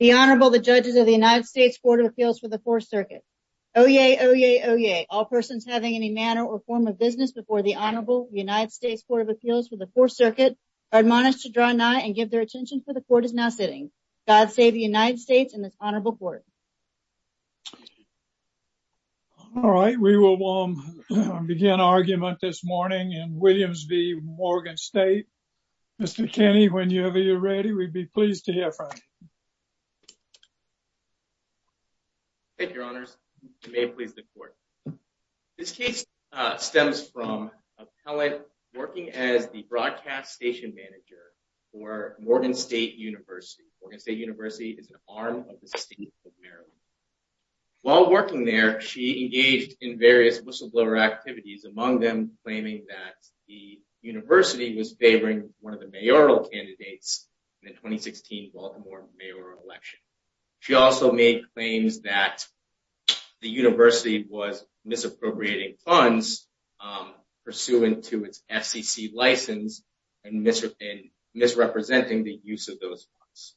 The Honorable, the judges of the United States Court of Appeals for the Fourth Circuit. Oyez, oyez, oyez, all persons having any manner or form of business before the Honorable United States Court of Appeals for the Fourth Circuit are admonished to draw nigh and give their attention for the Court is now sitting. God save the United States and this Honorable Court. All right, we will begin argument this morning in Williams v. Morgan State. Mr. Kenney, whenever you're ready, we'd be pleased to hear from you. Thank you, Your Honors. May it please the Court. This case stems from a appellant working as the broadcast station manager for Morgan State University. Morgan State University is an arm of the state of Maryland. While working there, she engaged in various whistleblower activities, among them claiming that the university was favoring one of the mayoral candidates in the 2016 Baltimore mayoral election. She also made claims that the university was misappropriating funds pursuant to its FCC license and misrepresenting the use of those funds.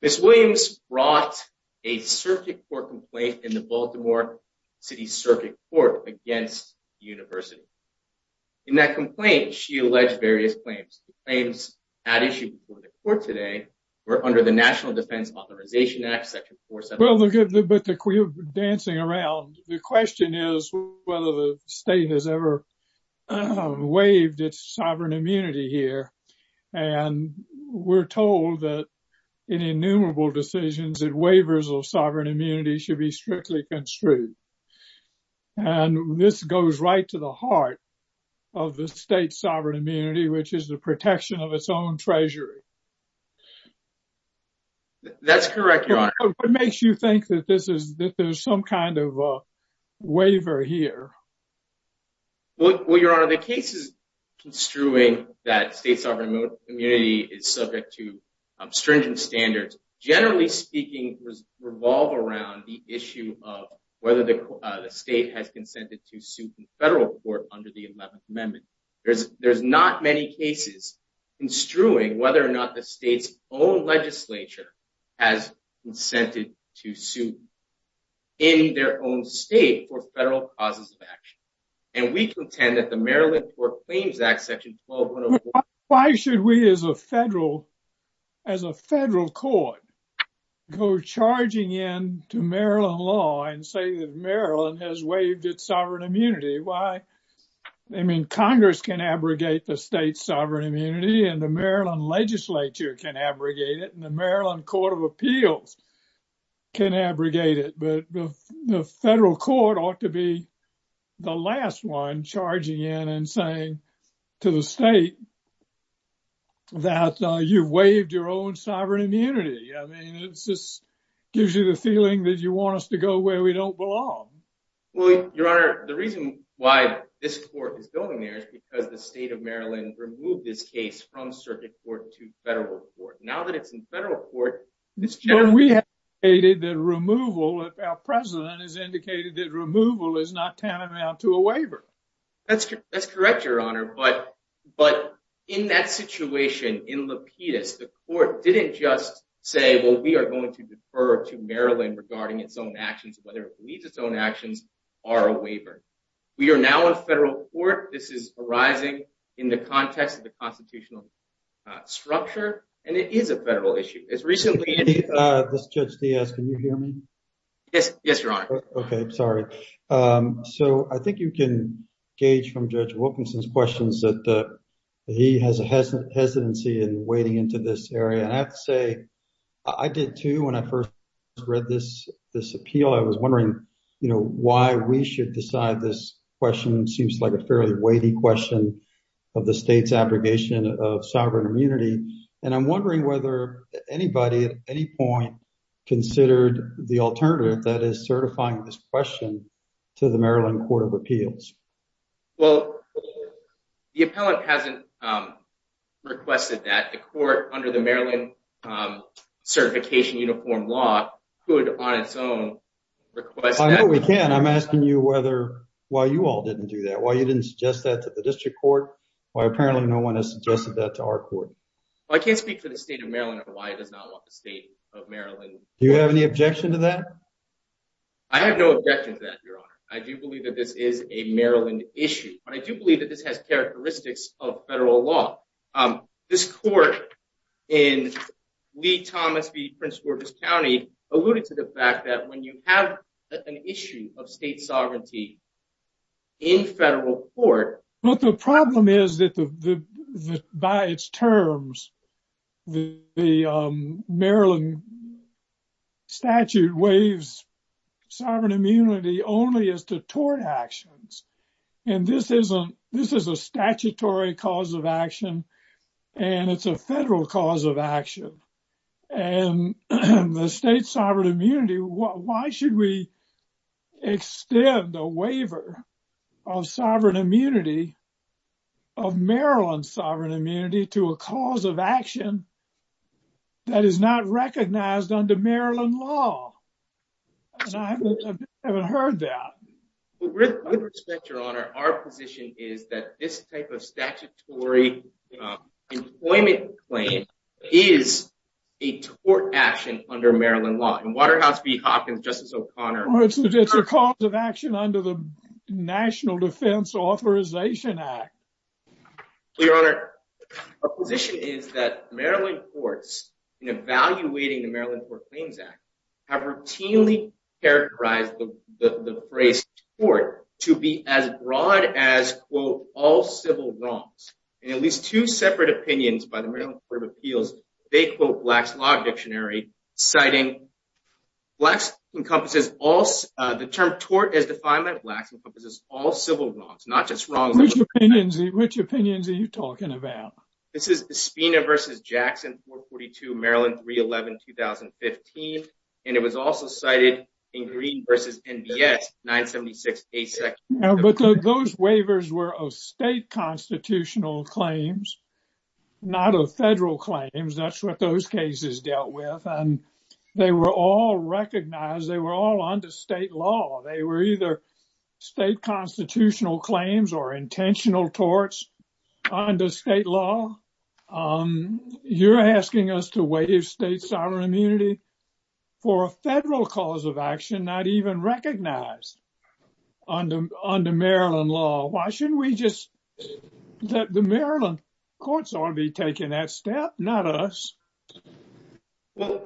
Ms. Williams brought a circuit court complaint in the Baltimore City Circuit Court against the university. In that complaint, she alleged various claims. The claims at issue before the Court today were under the National Defense Authorization Act, section 473. Well, but we're dancing around. The question is whether the state has ever waived its sovereign immunity here. And we're told that in innumerable decisions that waivers of sovereign immunity should be strictly construed. And this goes right to the heart of the state's sovereign immunity, which is the protection of its own treasury. That's correct, Your Honor. What makes you think that there's some kind of waiver here? Well, Your Honor, the cases construing that state sovereign immunity is subject to stringent standards, generally speaking, revolve around the issue of whether the state has consented to suit in federal court under the 11th Amendment. There's not many cases construing whether or not the state's own legislature has consented to suit in their own state for federal causes of action. And we contend that the Maryland Court Claims Act, section 1204. Why should we as a federal court go charging in to Maryland law and say that Maryland has waived its sovereign immunity? I mean, Congress can abrogate the state's sovereign immunity and the Maryland legislature can abrogate it and the Maryland Court of Appeals can abrogate it. But the federal court ought to be the last one charging in and saying to the state that you've waived your own sovereign immunity. I mean, it just gives you the feeling that you want us to go where we don't belong. Well, Your Honor, the reason why this court is going there is because the state of Maryland removed this case from circuit court to federal court. Now that it's in federal court, this gentleman... Well, we have stated that removal, our president has indicated that removal is not tantamount to a waiver. That's correct, Your Honor. But in that situation, in Lapidus, the court didn't just say, well, we are going to defer to Maryland regarding its own actions, whether it believes its own actions are a waiver. We are now in federal court. This is arising in the context of the constitutional structure, and it is a federal issue. As recently... Judge Diaz, can you hear me? Yes, Your Honor. Okay, sorry. So I think you can gauge from Judge Wilkinson's questions that he has a hesitancy in wading into this area. And I have to say, I did, too, when I first read this appeal, I was wondering, you know, why we should decide this question seems like a fairly weighty question of the state's abrogation of sovereign immunity. And I'm wondering whether anybody at any point considered the alternative that is certifying this question to the Maryland Court of Appeals. Well, the appellant hasn't requested that. The court, under the Maryland Certification Uniform Law, could on its own request that. I know we can. I'm asking you whether, why you all didn't do that. Why you didn't suggest that to the district court. Why apparently no one has suggested that to our court. I can't speak for the state of Maryland or why it does not want the state of Maryland. Do you have any objection to that? I have no objection to that, Your Honor. I do believe that this is a Maryland issue. But I do believe that this has characteristics of federal law. This court in Lee-Thomas v. Prince George's County alluded to the fact that when you have an issue of state sovereignty in federal court. But the problem is that by its terms, the Maryland statute waives sovereign immunity only as to tort actions. And this is a statutory cause of action. And it's a federal cause of action. And the state sovereign immunity. Why should we extend a waiver of sovereign immunity, of Maryland sovereign immunity, to a cause of action that is not recognized under Maryland law? I haven't heard that. With all due respect, Your Honor, our position is that this type of statutory employment claim is a tort action under Maryland law. In Waterhouse v. Hawkins, Justice O'Connor. It's a cause of action under the National Defense Authorization Act. Your Honor, our position is that Maryland courts, in evaluating the Maryland Court of Claims Act, have routinely characterized the phrase tort to be as broad as, quote, all civil wrongs. In at least two separate opinions by the Maryland Court of Appeals, they quote Black's Law Dictionary, citing the term tort as defined by Blacks encompasses all civil wrongs, not just wrongs. Which opinions are you talking about? This is Spina v. Jackson, 442, Maryland 311, 2015. And it was also cited in Green v. NBS, 976A. But those waivers were of state constitutional claims, not of federal claims. That's what those cases dealt with. And they were all recognized. They were all under state law. They were either state constitutional claims or intentional torts under state law. You're asking us to waive state sovereign immunity for a federal cause of action not even recognized under Maryland law. Why shouldn't we just let the Maryland courts be taking that step, not us? Well,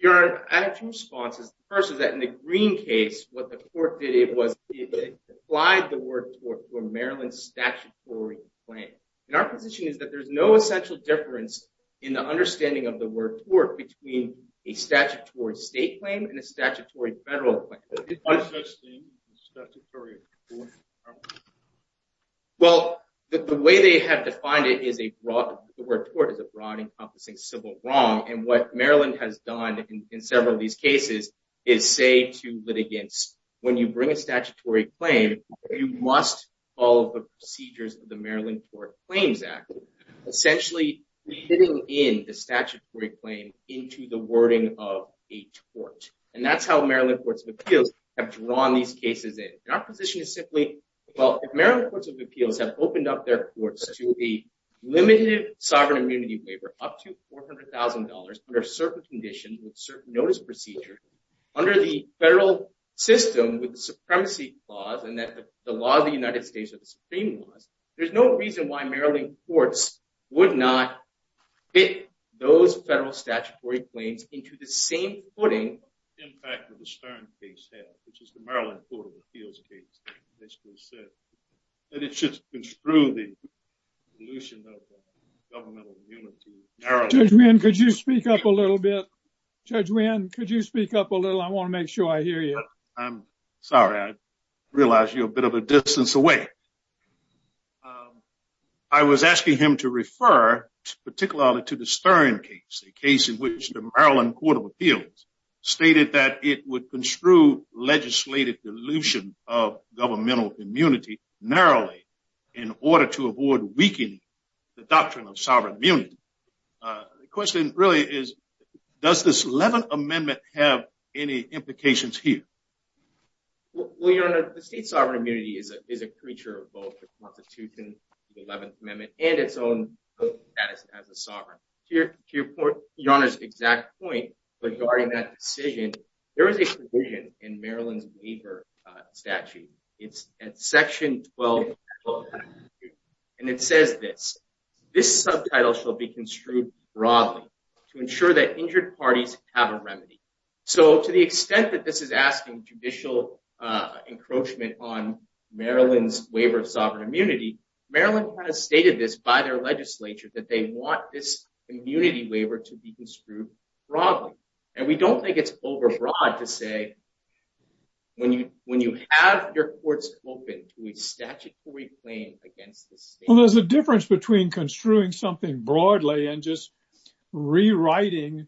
Your Honor, I have two responses. The first is that in the Green case, what the court did was it applied the word tort to a Maryland statutory claim. And our position is that there's no essential difference in the understanding of the word tort between a statutory state claim and a statutory federal claim. What does that mean, a statutory tort? Well, the way they have defined it is the word tort is a broad encompassing civil wrong. And what Maryland has done in several of these cases is say to litigants, when you bring a statutory claim, you must follow the procedures of the Maryland Tort Claims Act, essentially fitting in the statutory claim into the wording of a tort. And that's how Maryland courts of appeals have drawn these cases in. And our position is simply, well, if Maryland courts of appeals have opened up their courts to a limited sovereign immunity waiver, up to $400,000, under certain conditions, with certain notice procedures, under the federal system with the supremacy clause, and that the laws of the United States are the supreme laws, there's no reason why Maryland courts would not fit those federal statutory claims into the same footing. And that's the impact of the Stern case, which is the Maryland Court of Appeals case, which basically said that it should construe the dilution of governmental immunity. Judge Wynn, could you speak up a little bit? Judge Wynn, could you speak up a little? I want to make sure I hear you. I'm sorry, I realize you're a bit of a distance away. I was asking him to refer particularly to the Stern case, a case in which the Maryland Court of Appeals stated that it would construe legislative dilution of governmental immunity narrowly in order to avoid weakening the doctrine of sovereign immunity. The question really is, does this 11th Amendment have any implications here? Well, Your Honor, the state sovereign immunity is a creature of both the Constitution, the 11th Amendment, and its own status as a sovereign. To Your Honor's exact point regarding that decision, there is a provision in Maryland's waiver statute. It's at section 12, and it says this. This subtitle shall be construed broadly to ensure that injured parties have a remedy. So to the extent that this is asking judicial encroachment on Maryland's waiver of sovereign immunity, Maryland kind of stated this by their legislature that they want this immunity waiver to be construed broadly. And we don't think it's overbroad to say when you have your courts open to a statutory claim against the state. Well, there's a difference between construing something broadly and just rewriting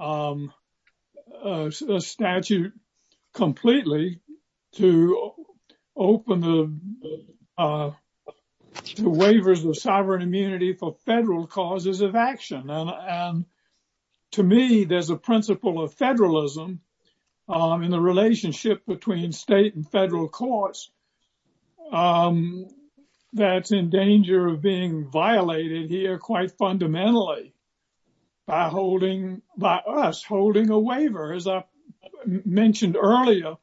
a statute completely to open the waivers of sovereign immunity for federal causes of action. And to me, there's a principle of federalism in the relationship between state and federal courts that's in danger of being violated here quite fundamentally by us holding a waiver. As I mentioned earlier,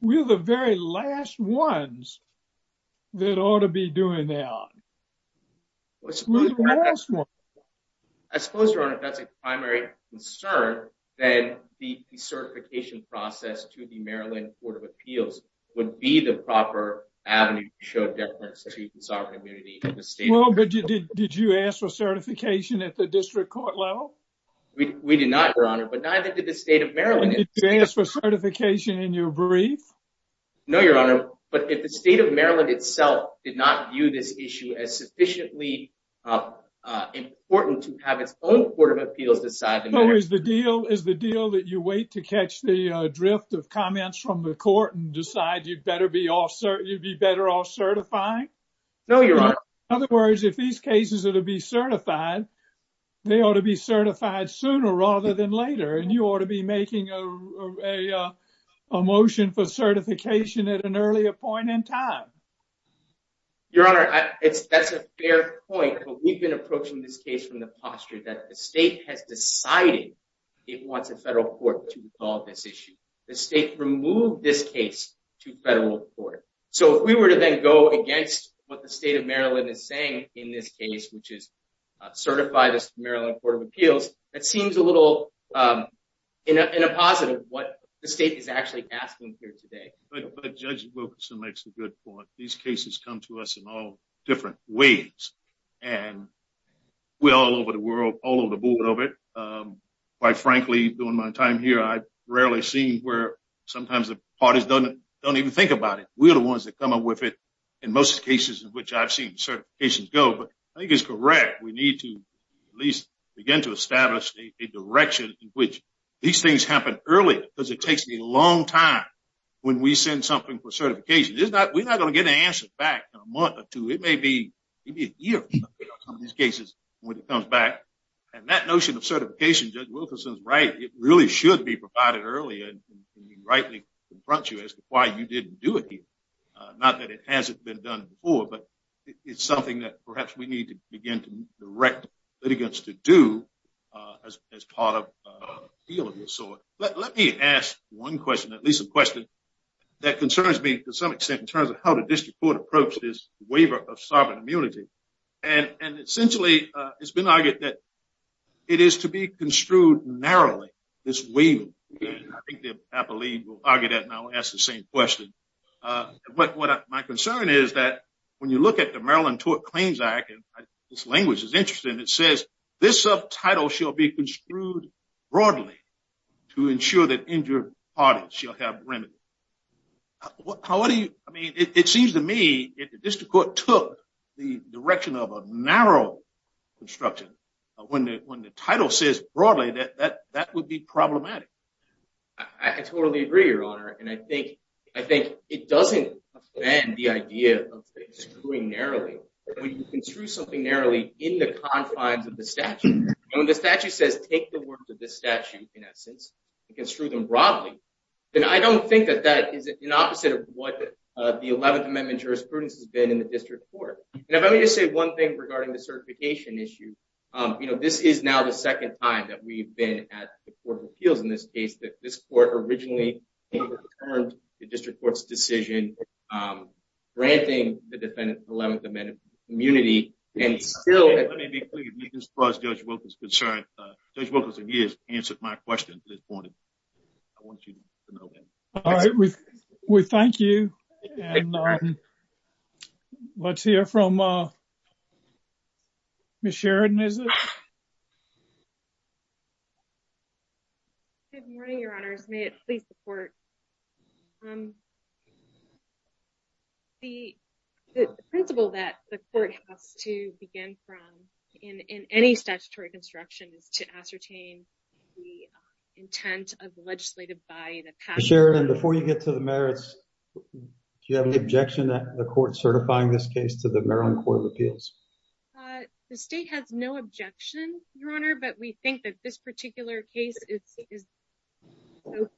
we're the very last ones that ought to be doing that. We're the last ones. I suppose, Your Honor, if that's a primary concern, then the certification process to the Maryland Court of Appeals would be the proper avenue to show deference to sovereign immunity in the state of Maryland. Well, but did you ask for certification at the district court level? We did not, Your Honor, but neither did the state of Maryland. Did you ask for certification in your brief? No, Your Honor. But if the state of Maryland itself did not view this issue as sufficiently important to have its own Court of Appeals decide the matter. So is the deal that you wait to catch the drift of comments from the court and decide you'd be better off certifying? No, Your Honor. In other words, if these cases are to be certified, they ought to be certified sooner rather than later. And you ought to be making a motion for certification at an earlier point in time. Your Honor, that's a fair point. But we've been approaching this case from the posture that the state has decided it wants a federal court to resolve this issue. The state removed this case to federal court. So if we were to then go against what the state of Maryland is saying in this case, which is certify the Maryland Court of Appeals, that seems a little in a positive what the state is actually asking here today. But Judge Wilkerson makes a good point. These cases come to us in all different ways. And we're all over the world, all over the board of it. Quite frankly, during my time here, I rarely see where sometimes the parties don't even think about it. We're the ones that come up with it in most cases in which I've seen certifications go. But I think it's correct. We need to at least begin to establish a direction in which these things happen early because it takes a long time when we send something for certification. We're not going to get an answer back in a month or two. It may be a year for some of these cases when it comes back. And that notion of certification, Judge Wilkerson is right. It really should be provided earlier. And we rightly confront you as to why you didn't do it here. Not that it hasn't been done before, but it's something that perhaps we need to begin to direct litigants to do as part of an appeal of this sort. Let me ask one question, at least a question that concerns me to some extent in terms of how the district court approached this waiver of sovereign immunity. And essentially, it's been argued that it is to be construed narrowly, this waiver. I think the appellee will argue that and I will ask the same question. My concern is that when you look at the Maryland Tort Claims Act, and this language is interesting, it says, this subtitle shall be construed broadly to ensure that injured parties shall have remedy. I mean, it seems to me that the district court took the direction of a narrow construction. When the title says broadly, that would be problematic. I totally agree, Your Honor. And I think it doesn't offend the idea of construing narrowly. When you construe something narrowly in the confines of the statute, when the statute says take the words of the statute, in essence, and construe them broadly, then I don't think that that is an opposite of what the 11th Amendment jurisprudence has been in the district court. And if I may just say one thing regarding the certification issue, this is now the second time that we've been at the court of appeals in this case, that this court originally overturned the district court's decision granting the defendant the 11th Amendment immunity. Let me be clear, as far as Judge Wilk is concerned, Judge Wilk has answered my question this morning. I want you to know that. All right, we thank you. And let's hear from Ms. Sheridan, is it? Good morning, Your Honors. May it please the court. The principle that the court has to begin from in any statutory construction is to ascertain the intent of the legislative body. Sheridan, before you get to the merits, do you have any objection to the court certifying this case to the Maryland Court of Appeals? The state has no objection, Your Honor, but we think that this particular case is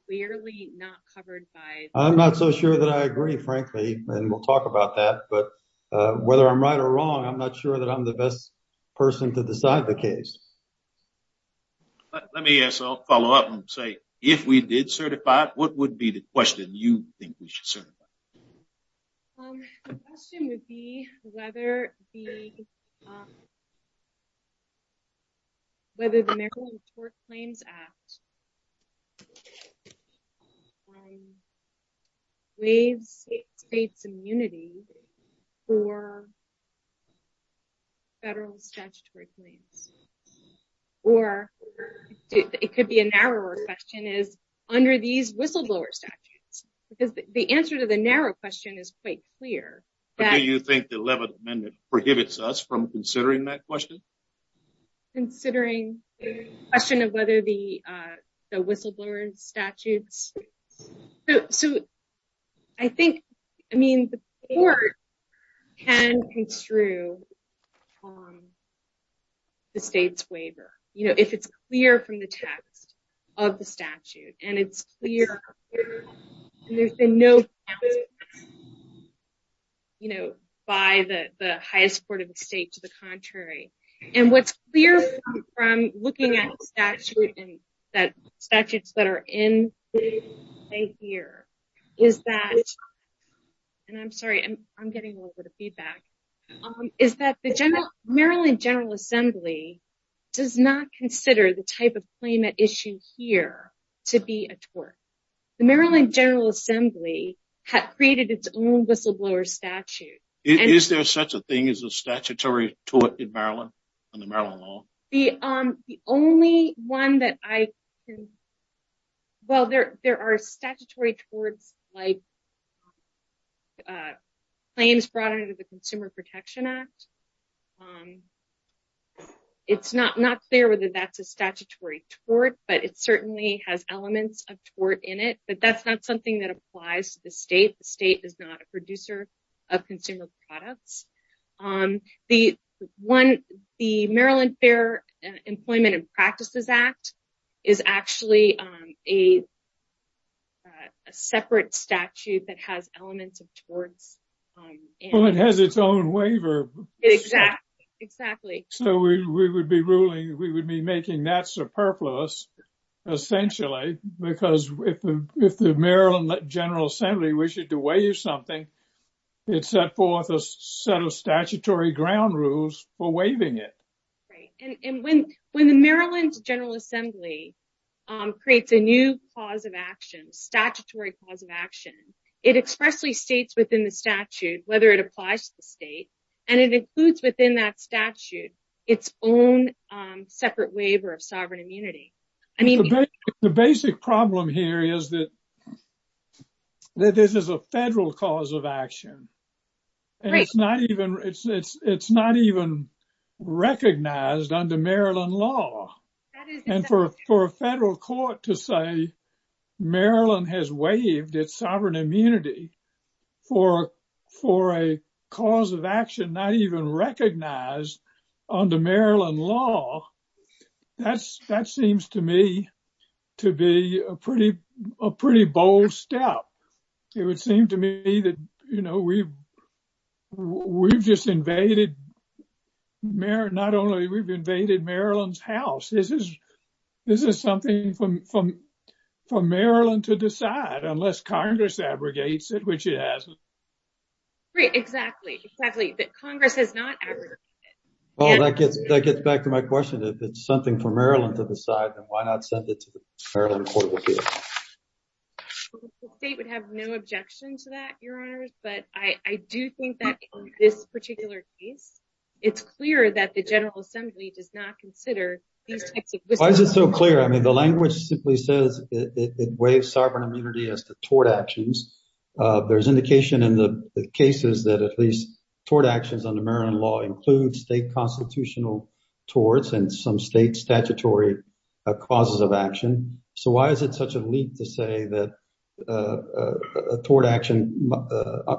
clearly not covered by. I'm not so sure that I agree, frankly, and we'll talk about that. But whether I'm right or wrong, I'm not sure that I'm the best person to decide the case. Let me follow up and say, if we did certify, what would be the question you think we should certify? The question would be whether the Maryland Court Claims Act waives states' immunity for federal statutory claims. Or it could be a narrower question is under these whistleblower statutes, because the answer to the narrow question is quite clear. Do you think the 11th Amendment forgives us from considering that question? Considering the question of whether the whistleblower statutes. I think the court can construe the state's waiver. If it's clear from the text of the statute, and it's clear there's been no, you know, by the highest court of the state to the contrary. And what's clear from looking at statutes that are in the state here is that, and I'm sorry, I'm getting a little bit of feedback, is that the Maryland General Assembly does not consider the type of claim at issue here to be a tort. The Maryland General Assembly created its own whistleblower statute. Is there such a thing as a statutory tort in Maryland, in the Maryland law? The only one that I can, well, there are statutory torts like claims brought under the Consumer Protection Act. It's not clear whether that's a statutory tort, but it certainly has elements of tort in it, but that's not something that applies to the state. The state is not a producer of consumer products. The Maryland Fair Employment and Practices Act is actually a separate statute that has elements of torts. Well, it has its own waiver. Exactly. So we would be ruling, we would be making that superfluous, essentially, because if the Maryland General Assembly wished to waive something, it set forth a set of statutory ground rules for waiving it. When the Maryland General Assembly creates a new cause of action, statutory cause of action, it expressly states within the statute whether it applies to the state, and it includes within that statute its own separate waiver of sovereign immunity. The basic problem here is that this is a federal cause of action, and it's not even recognized under Maryland law. And for a federal court to say Maryland has waived its sovereign immunity for a cause of action not even recognized under Maryland law, that seems to me to be a pretty bold step. It would seem to me that, you know, we've just invaded, not only we've invaded Maryland's house, this is something for Maryland to decide unless Congress abrogates it, which it hasn't. Right, exactly, exactly. But Congress has not abrogated it. Well, that gets back to my question. If it's something for Maryland to decide, then why not send it to the Maryland court of appeals? The state would have no objection to that, Your Honors, but I do think that in this particular case, it's clear that the General Assembly does not consider these types of... Why is it so clear? I mean, the language simply says it waives sovereign immunity as to tort actions. There's indication in the cases that at least tort actions under Maryland law include state constitutional torts and some state statutory causes of action. So why is it such a leap to say that a tort action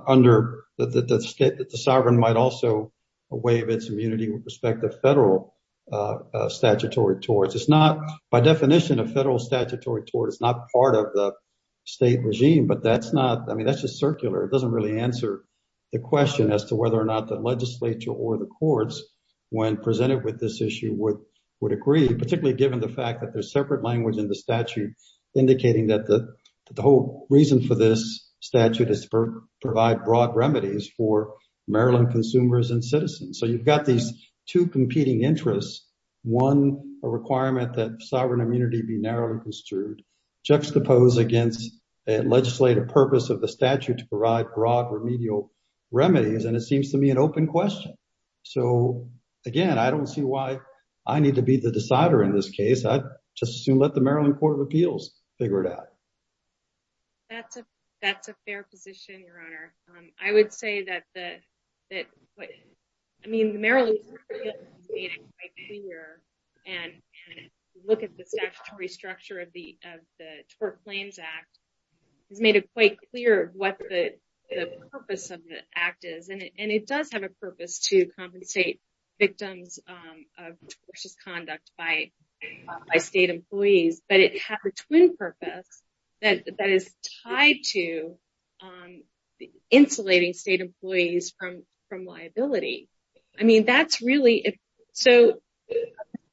under the sovereign might also waive its immunity with respect to federal statutory torts? It's not, by definition, a federal statutory tort. It's not part of the state regime, but that's not, I mean, that's just circular. It doesn't really answer the question as to whether or not the legislature or the courts, when presented with this issue, would agree, particularly given the fact that there's separate language in the statute indicating that the whole reason for this statute is to provide broad remedies for Maryland consumers and citizens. So you've got these two competing interests, one, a requirement that sovereign immunity be narrowly construed, juxtaposed against a legislative purpose of the statute to provide broad remedial remedies, and it seems to me an open question. So, again, I don't see why I need to be the decider in this case. I'd just as soon let the Maryland Court of Appeals figure it out. That's a fair position, Your Honor. I would say that, I mean, the Maryland Court of Appeals has made it quite clear, and look at the statutory structure of the Tort Claims Act, has made it quite clear what the purpose of the act is. And it does have a purpose to compensate victims of tortious conduct by state employees, but it has a twin purpose that is tied to insulating state employees from liability. That's a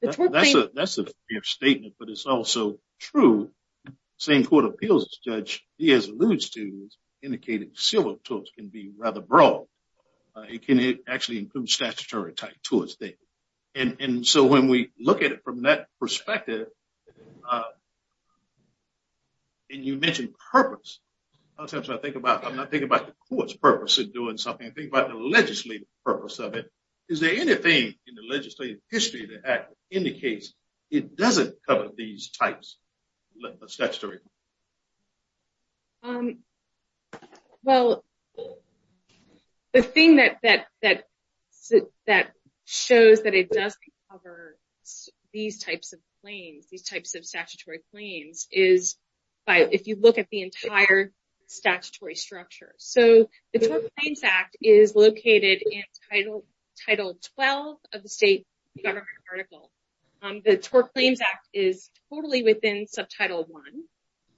fair statement, but it's also true. The same Court of Appeals Judge Diaz alludes to is indicating civil torts can be rather broad. It can actually include statutory type torts. And so when we look at it from that perspective, and you mentioned purpose, sometimes I think about, I'm not thinking about the court's purpose of doing something, I think about the legislative purpose of it. Is there anything in the legislative history of the act that indicates it doesn't cover these types of statutory? Well, the thing that shows that it does cover these types of claims, these types of statutory claims, is if you look at the entire statutory structure. So the Tort Claims Act is located in Title 12 of the state government article. The Tort Claims Act is totally within Subtitle 1.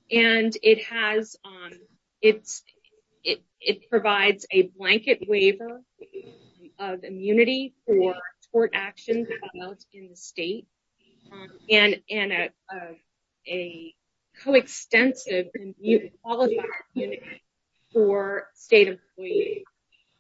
And it provides a blanket waiver of immunity for tort actions in the state, and a coextensive qualified immunity for state employees.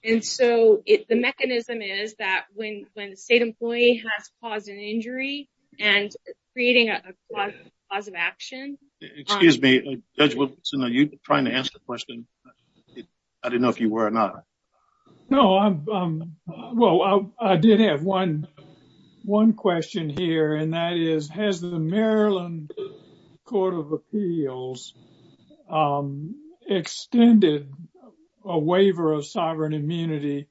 And so the mechanism is that when a state employee has caused an injury and creating a cause of action. Excuse me, Judge Wilkerson, are you trying to answer the question? I didn't know if you were or not. No, well, I did have one question here, and that is, has the Maryland Court of Appeals extended a waiver of sovereign immunity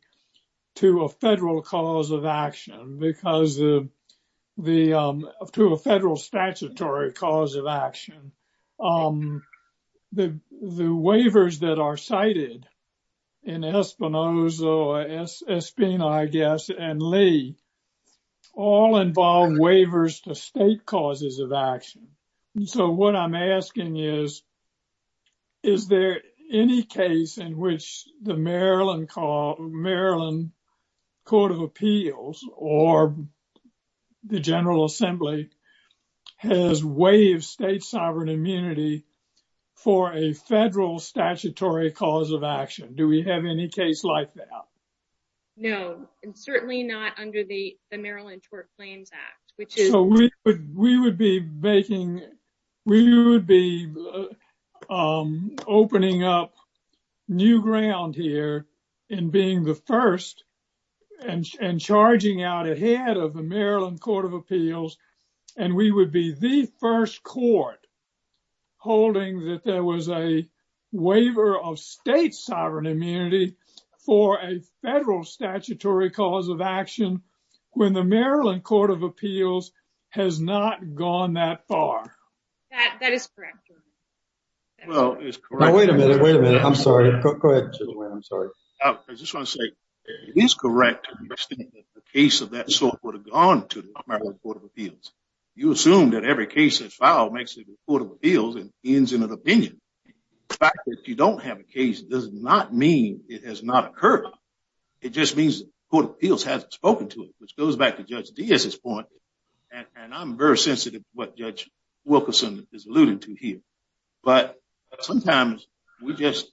to a federal cause of action because of the federal statutory cause of action? The waivers that are cited in Espinoza, Espina, I guess, and Lee all involve waivers to state causes of action. So what I'm asking is, is there any case in which the Maryland Court of Appeals or the General Assembly has waived state sovereign immunity for a federal statutory cause of action? Do we have any case like that? No, and certainly not under the Maryland Tort Claims Act. We would be making, we would be opening up new ground here in being the first and charging out ahead of the Maryland Court of Appeals. And we would be the first court holding that there was a waiver of state sovereign immunity for a federal statutory cause of action when the Maryland Court of Appeals has not gone that far. That is correct. Well, it's correct. Wait a minute, wait a minute. I'm sorry. Go ahead. I'm sorry. I just want to say, it is correct that the case of that sort would have gone to the Maryland Court of Appeals. You assume that every case that's filed makes it to the Court of Appeals and ends in an opinion. The fact that you don't have a case does not mean it has not occurred. It just means the Court of Appeals hasn't spoken to it, which goes back to Judge Diaz's point. And I'm very sensitive to what Judge Wilkerson is alluding to here. But sometimes we just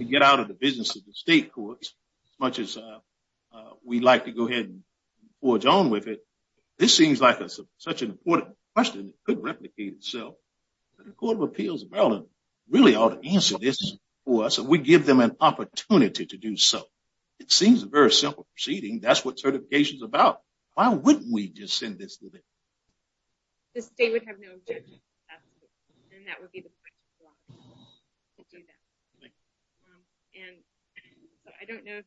get out of the business of the state courts as much as we like to go ahead and forge on with it. This seems like such an important question that could replicate itself. The Court of Appeals in Maryland really ought to answer this for us if we give them an opportunity to do so. It seems a very simple proceeding. That's what certification is about. Why wouldn't we just send this to them? The state would have no objection to that. And that would be the point of the law. I don't know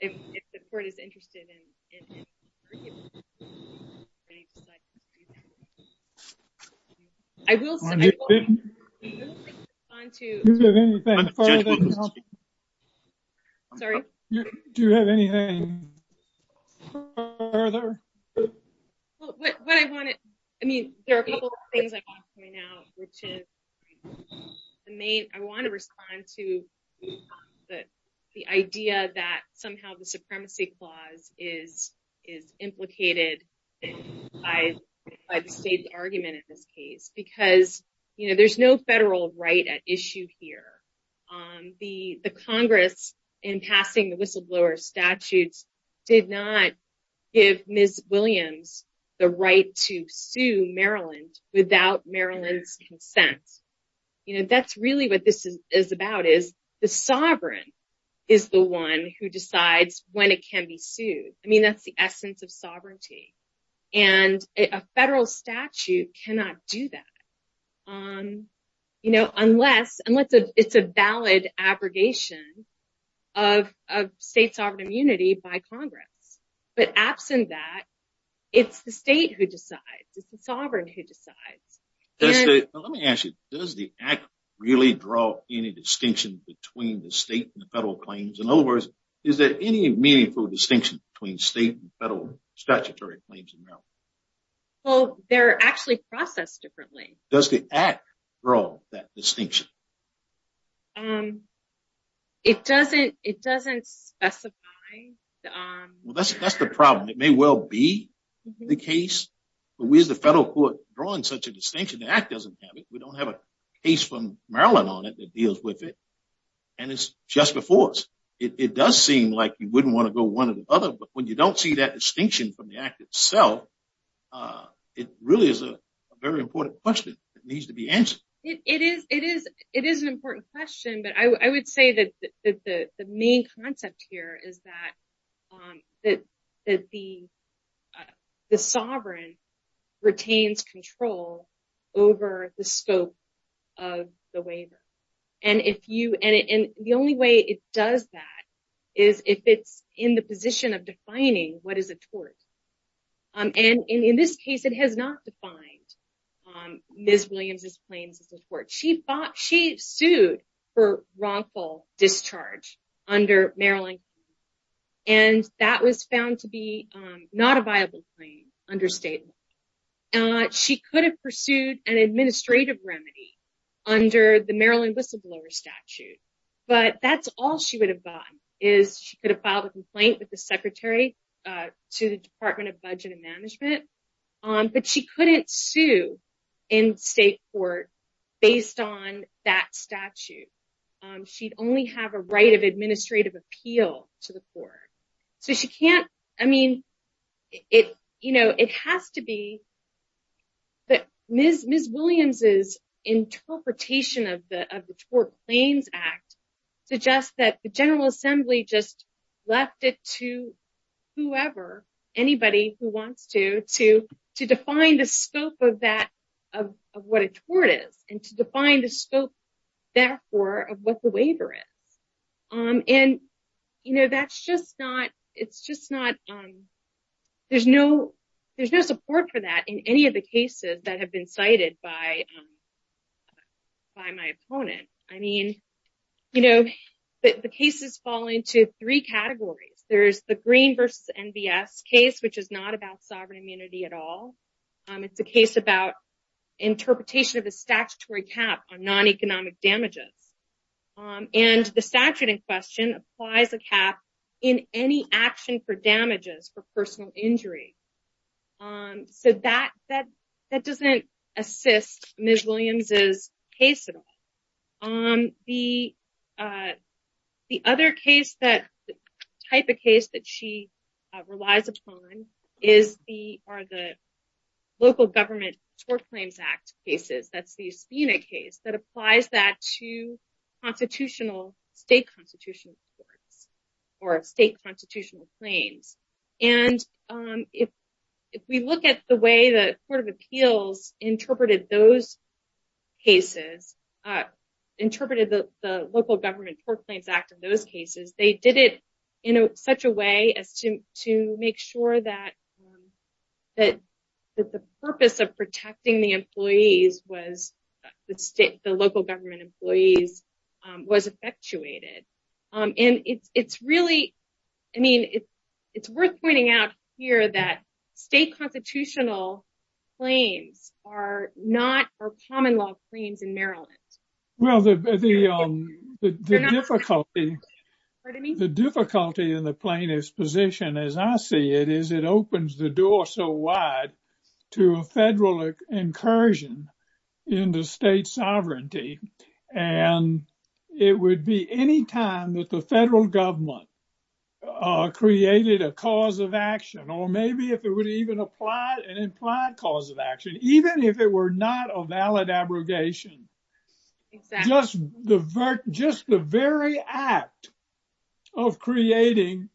if the Court is interested in bringing this to the Court of Appeals. Do you have anything further? There are a couple of things I want to point out. I want to respond to the idea that somehow the supremacy clause is implicated by the state's argument in this case. Because there's no federal right at issue here. The Congress, in passing the whistleblower statutes, did not give Ms. Williams the right to sue Maryland without Maryland's consent. That's really what this is about. The sovereign is the one who decides when it can be sued. That's the essence of sovereignty. And a federal statute cannot do that. Unless it's a valid abrogation of state sovereign immunity by Congress. But absent that, it's the state who decides. It's the sovereign who decides. Let me ask you. Does the Act really draw any distinction between the state and the federal claims? In other words, is there any meaningful distinction between state and federal statutory claims in Maryland? Well, they're actually processed differently. Does the Act draw that distinction? It doesn't specify. That's the problem. It may well be the case. But where's the federal court drawing such a distinction? The Act doesn't have it. We don't have a case from Maryland on it that deals with it. And it's just before us. It does seem like you wouldn't want to go one or the other. But when you don't see that distinction from the Act itself, it really is a very important question that needs to be answered. It is an important question. But I would say that the main concept here is that the sovereign retains control over the scope of the waiver. And the only way it does that is if it's in the position of defining what is a tort. And in this case, it has not defined Ms. Williams' claims as a tort. She sued for wrongful discharge under Maryland. And that was found to be not a viable claim under state law. She could have pursued an administrative remedy under the Maryland whistleblower statute. But that's all she would have gotten is she could have filed a complaint with the secretary to the Department of Budget and Management. But she couldn't sue in state court based on that statute. She'd only have a right of administrative appeal to the court. Ms. Williams' interpretation of the Tort Claims Act suggests that the General Assembly just left it to whoever, anybody who wants to, to define the scope of what a tort is and to define the scope, therefore, of what the waiver is. And, you know, that's just not, it's just not, there's no support for that in any of the cases that have been cited by my opponent. I mean, you know, the cases fall into three categories. There's the Green v. NBS case, which is not about sovereign immunity at all. It's a case about interpretation of a statutory cap on non-economic damages. And the statute in question applies a cap in any action for damages for personal injury. So that doesn't assist Ms. Williams' case at all. The other case that, type of case that she relies upon are the local government Tort Claims Act cases. That's the Espina case that applies that to constitutional, state constitutional courts or state constitutional claims. And if we look at the way the Court of Appeals interpreted those cases, interpreted the local government Tort Claims Act in those cases, they did it in such a way as to make sure that the purpose of protecting the employees was, the state, the local government employees was effectuated. And it's really, I mean, it's worth pointing out here that state constitutional claims are not common law claims in Maryland. Well, the difficulty in the plaintiff's position, as I see it, is it opens the door so wide to a federal incursion into state sovereignty. And it would be any time that the federal government created a cause of action, or maybe if it would even apply an implied cause of action, even if it were not a valid abrogation. Just the very act of creating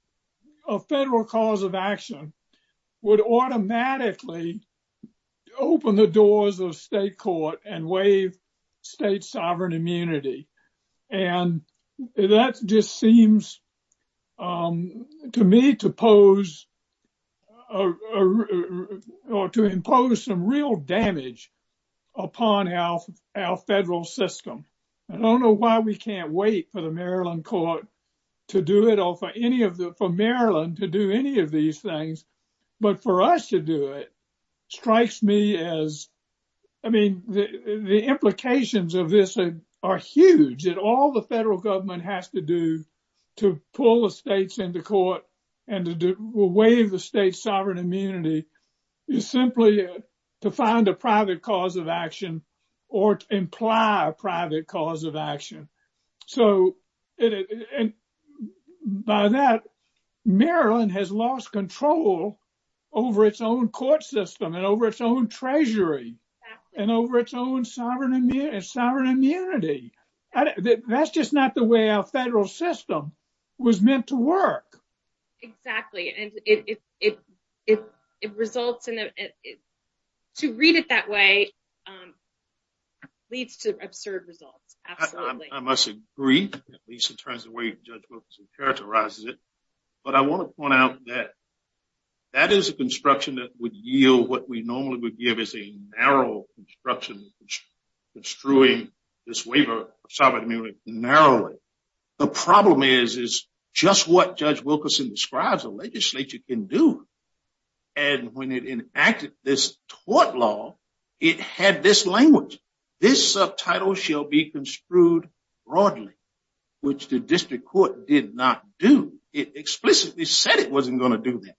a federal cause of action would automatically open the doors of state court and waive state sovereign immunity. And that just seems to me to impose some real damage upon our federal system. I don't know why we can't wait for the Maryland court to do it or for Maryland to do any of these things. But for us to do it strikes me as, I mean, the implications of this are huge. And all the federal government has to do to pull the states into court and to waive the state sovereign immunity is simply to find a private cause of action or imply a private cause of action. And by that, Maryland has lost control over its own court system and over its own treasury and over its own sovereign immunity. That's just not the way our federal system was meant to work. Exactly. And to read it that way leads to absurd results. Absolutely. I must agree, at least in terms of the way Judge Wilkinson characterizes it. But I want to point out that that is a construction that would yield what we normally would give as a narrow construction, construing this waiver of sovereign immunity narrowly. The problem is, is just what Judge Wilkinson describes the legislature can do. And when it enacted this tort law, it had this language. This subtitle shall be construed broadly, which the district court did not do. It explicitly said it wasn't going to do that.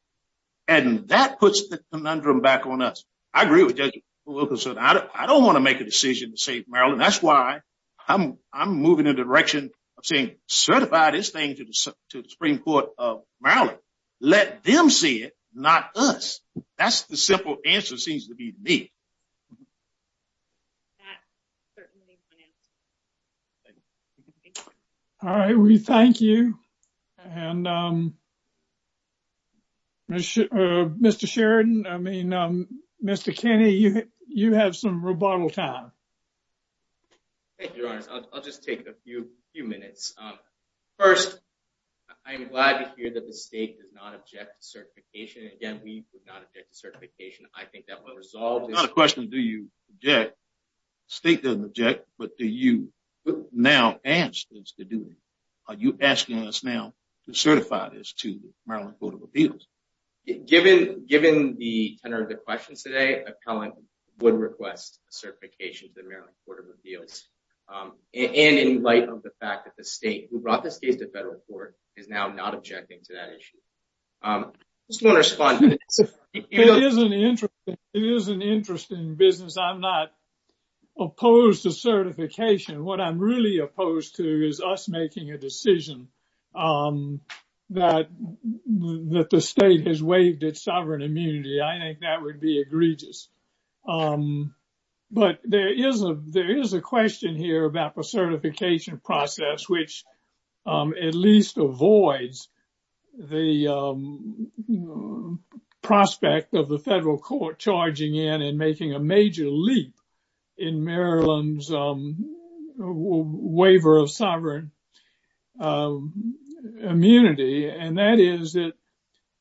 And that puts the conundrum back on us. I agree with Judge Wilkinson. I don't want to make a decision to save Maryland. That's why I'm I'm moving in the direction of saying certify this thing to the Supreme Court of Maryland. Let them see it, not us. That's the simple answer seems to be me. Certainly. All right. We thank you. And Mr. Sheridan, I mean, Mr. Kenny, you have some rebuttal time. I'll just take a few few minutes. First, I'm glad to hear that the state does not object to certification. Again, we would not object to certification. I think that will resolve the question. Do you get state doesn't object, but do you now ask things to do? Are you asking us now to certify this to Maryland Court of Appeals? Given given the tenor of the questions today, appellant would request certification to the Maryland Court of Appeals. And in light of the fact that the state brought this case to federal court is now not objecting to that issue. I just want to respond. It is an interesting business. I'm not opposed to certification. What I'm really opposed to is us making a decision that the state has waived its sovereign immunity. I think that would be egregious. But there is a there is a question here about the certification process, which at least avoids the prospect of the federal court charging in and making a major leap in Maryland's waiver of sovereign immunity. And that is that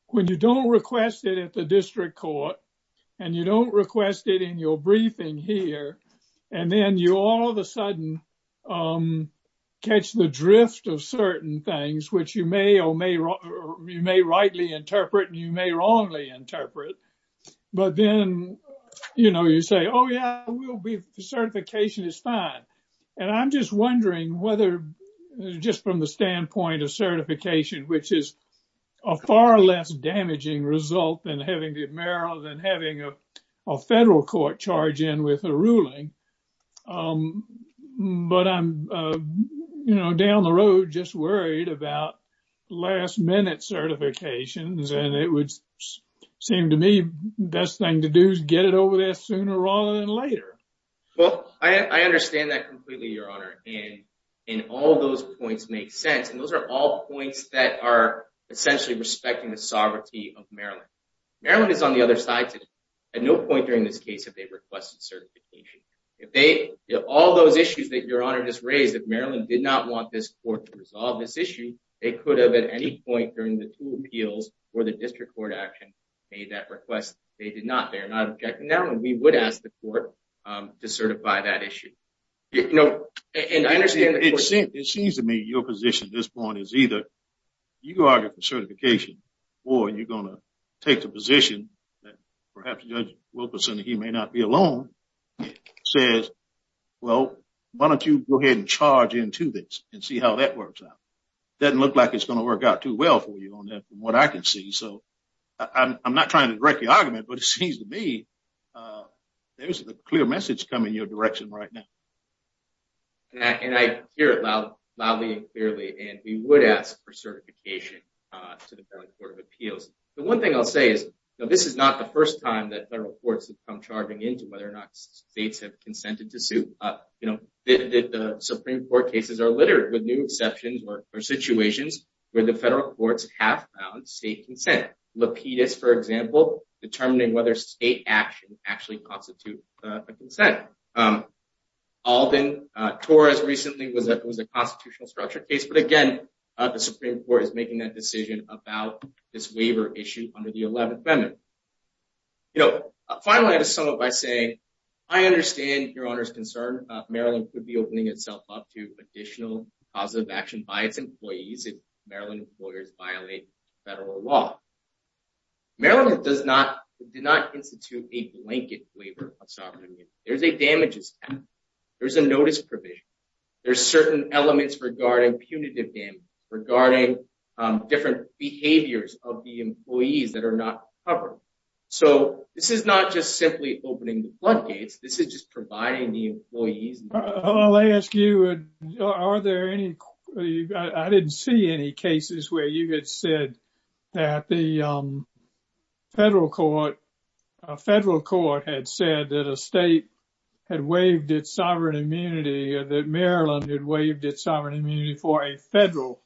when you don't request it at the district court and you don't request it in your briefing here, and then you all of a sudden catch the drift of certain things which you may or may or may rightly interpret and you may wrongly interpret. But then, you know, you say, oh, yeah, we'll be certification is fine. And I'm just wondering whether just from the standpoint of certification, which is a far less damaging result than having the mayoral than having a federal court charge in with a ruling. But I'm, you know, down the road, just worried about last minute certifications. And it would seem to me best thing to do is get it over there sooner rather than later. Well, I understand that completely, Your Honor. And in all those points make sense. And those are all points that are essentially respecting the sovereignty of Maryland. Maryland is on the other side at no point during this case that they requested certification. If they all those issues that Your Honor just raised, if Maryland did not want this court to resolve this issue, they could have at any point during the two appeals for the district court action made that request. They did not. They're not. Now we would ask the court to certify that issue. You know, and I understand it seems to me your position at this point is either you argue for certification or you're going to take the position that perhaps Judge Wilkerson, he may not be alone, says, well, why don't you go ahead and charge into this and see how that works out? Doesn't look like it's going to work out too well for you on what I can see. So I'm not trying to wreck the argument, but it seems to me there's a clear message coming your direction right now. And I hear it loud, loudly, clearly, and we would ask for certification to the Court of Appeals. The one thing I'll say is this is not the first time that federal courts have come charging into whether or not states have consented to sue. You know, the Supreme Court cases are littered with new exceptions or situations where the federal courts have found state consent. Lapidus, for example, determining whether state action actually constitute consent. Alden Torres recently was that was a constitutional structure case. But again, the Supreme Court is making that decision about this waiver issue under the 11th Amendment. You know, finally, to sum up, I say I understand your Honor's concern. Maryland could be opening itself up to additional positive action by its employees if Maryland employers violate federal law. Maryland does not did not institute a blanket waiver of sovereign immunity. There's a damages. There's a notice provision. There's certain elements regarding punitive damage, regarding different behaviors of the employees that are not covered. So this is not just simply opening the floodgates. This is just providing the employees. I'll ask you, are there any. I didn't see any cases where you had said that the federal court, federal court had said that a state had waived its sovereign immunity, that Maryland had waived its sovereign immunity for a federal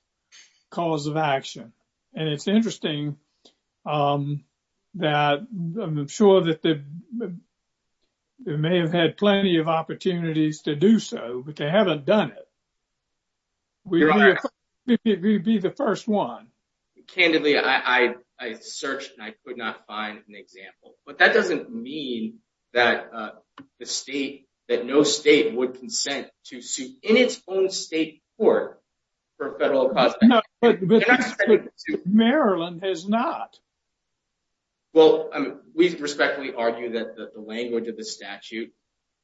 cause of action. And it's interesting that I'm sure that they may have had plenty of opportunities to do so, but they haven't done it. We would be the first one. Candidly, I searched and I could not find an example. But that doesn't mean that the state that no state would consent to sue in its own state court for federal costs. Maryland has not. Well, we respectfully argue that the language of the statute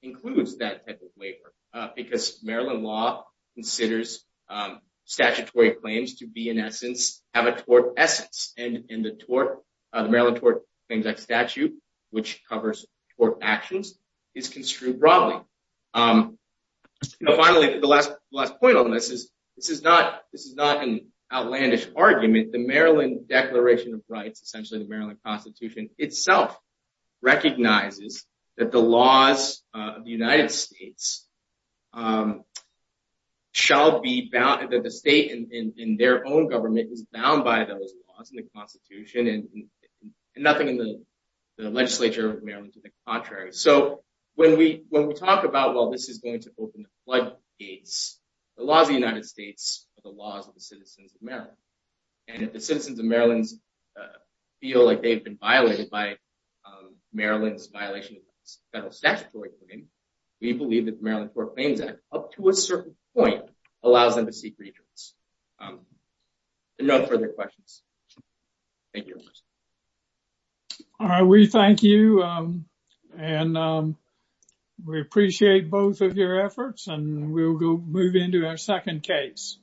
includes that type of waiver because Maryland law considers statutory claims to be, in essence, have a tort essence. And in the tort, Maryland tort claims that statute, which covers tort actions, is construed broadly. Finally, the last last point on this is this is not this is not an outlandish argument. The Maryland Declaration of Rights, essentially the Maryland Constitution itself, recognizes that the laws of the United States shall be bound that the state in their own government is bound by those laws in the Constitution and nothing in the legislature of Maryland to the contrary. So when we when we talk about, well, this is going to open the floodgates, the laws of the United States, the laws of the citizens of Maryland and the citizens of Maryland feel like they've been violated by Maryland's violation of federal statutory. I mean, we believe that the Maryland Tort Claims Act up to a certain point allows them to seek redress. No further questions. Thank you. All right, we thank you and we appreciate both of your efforts and we'll go move into our second case.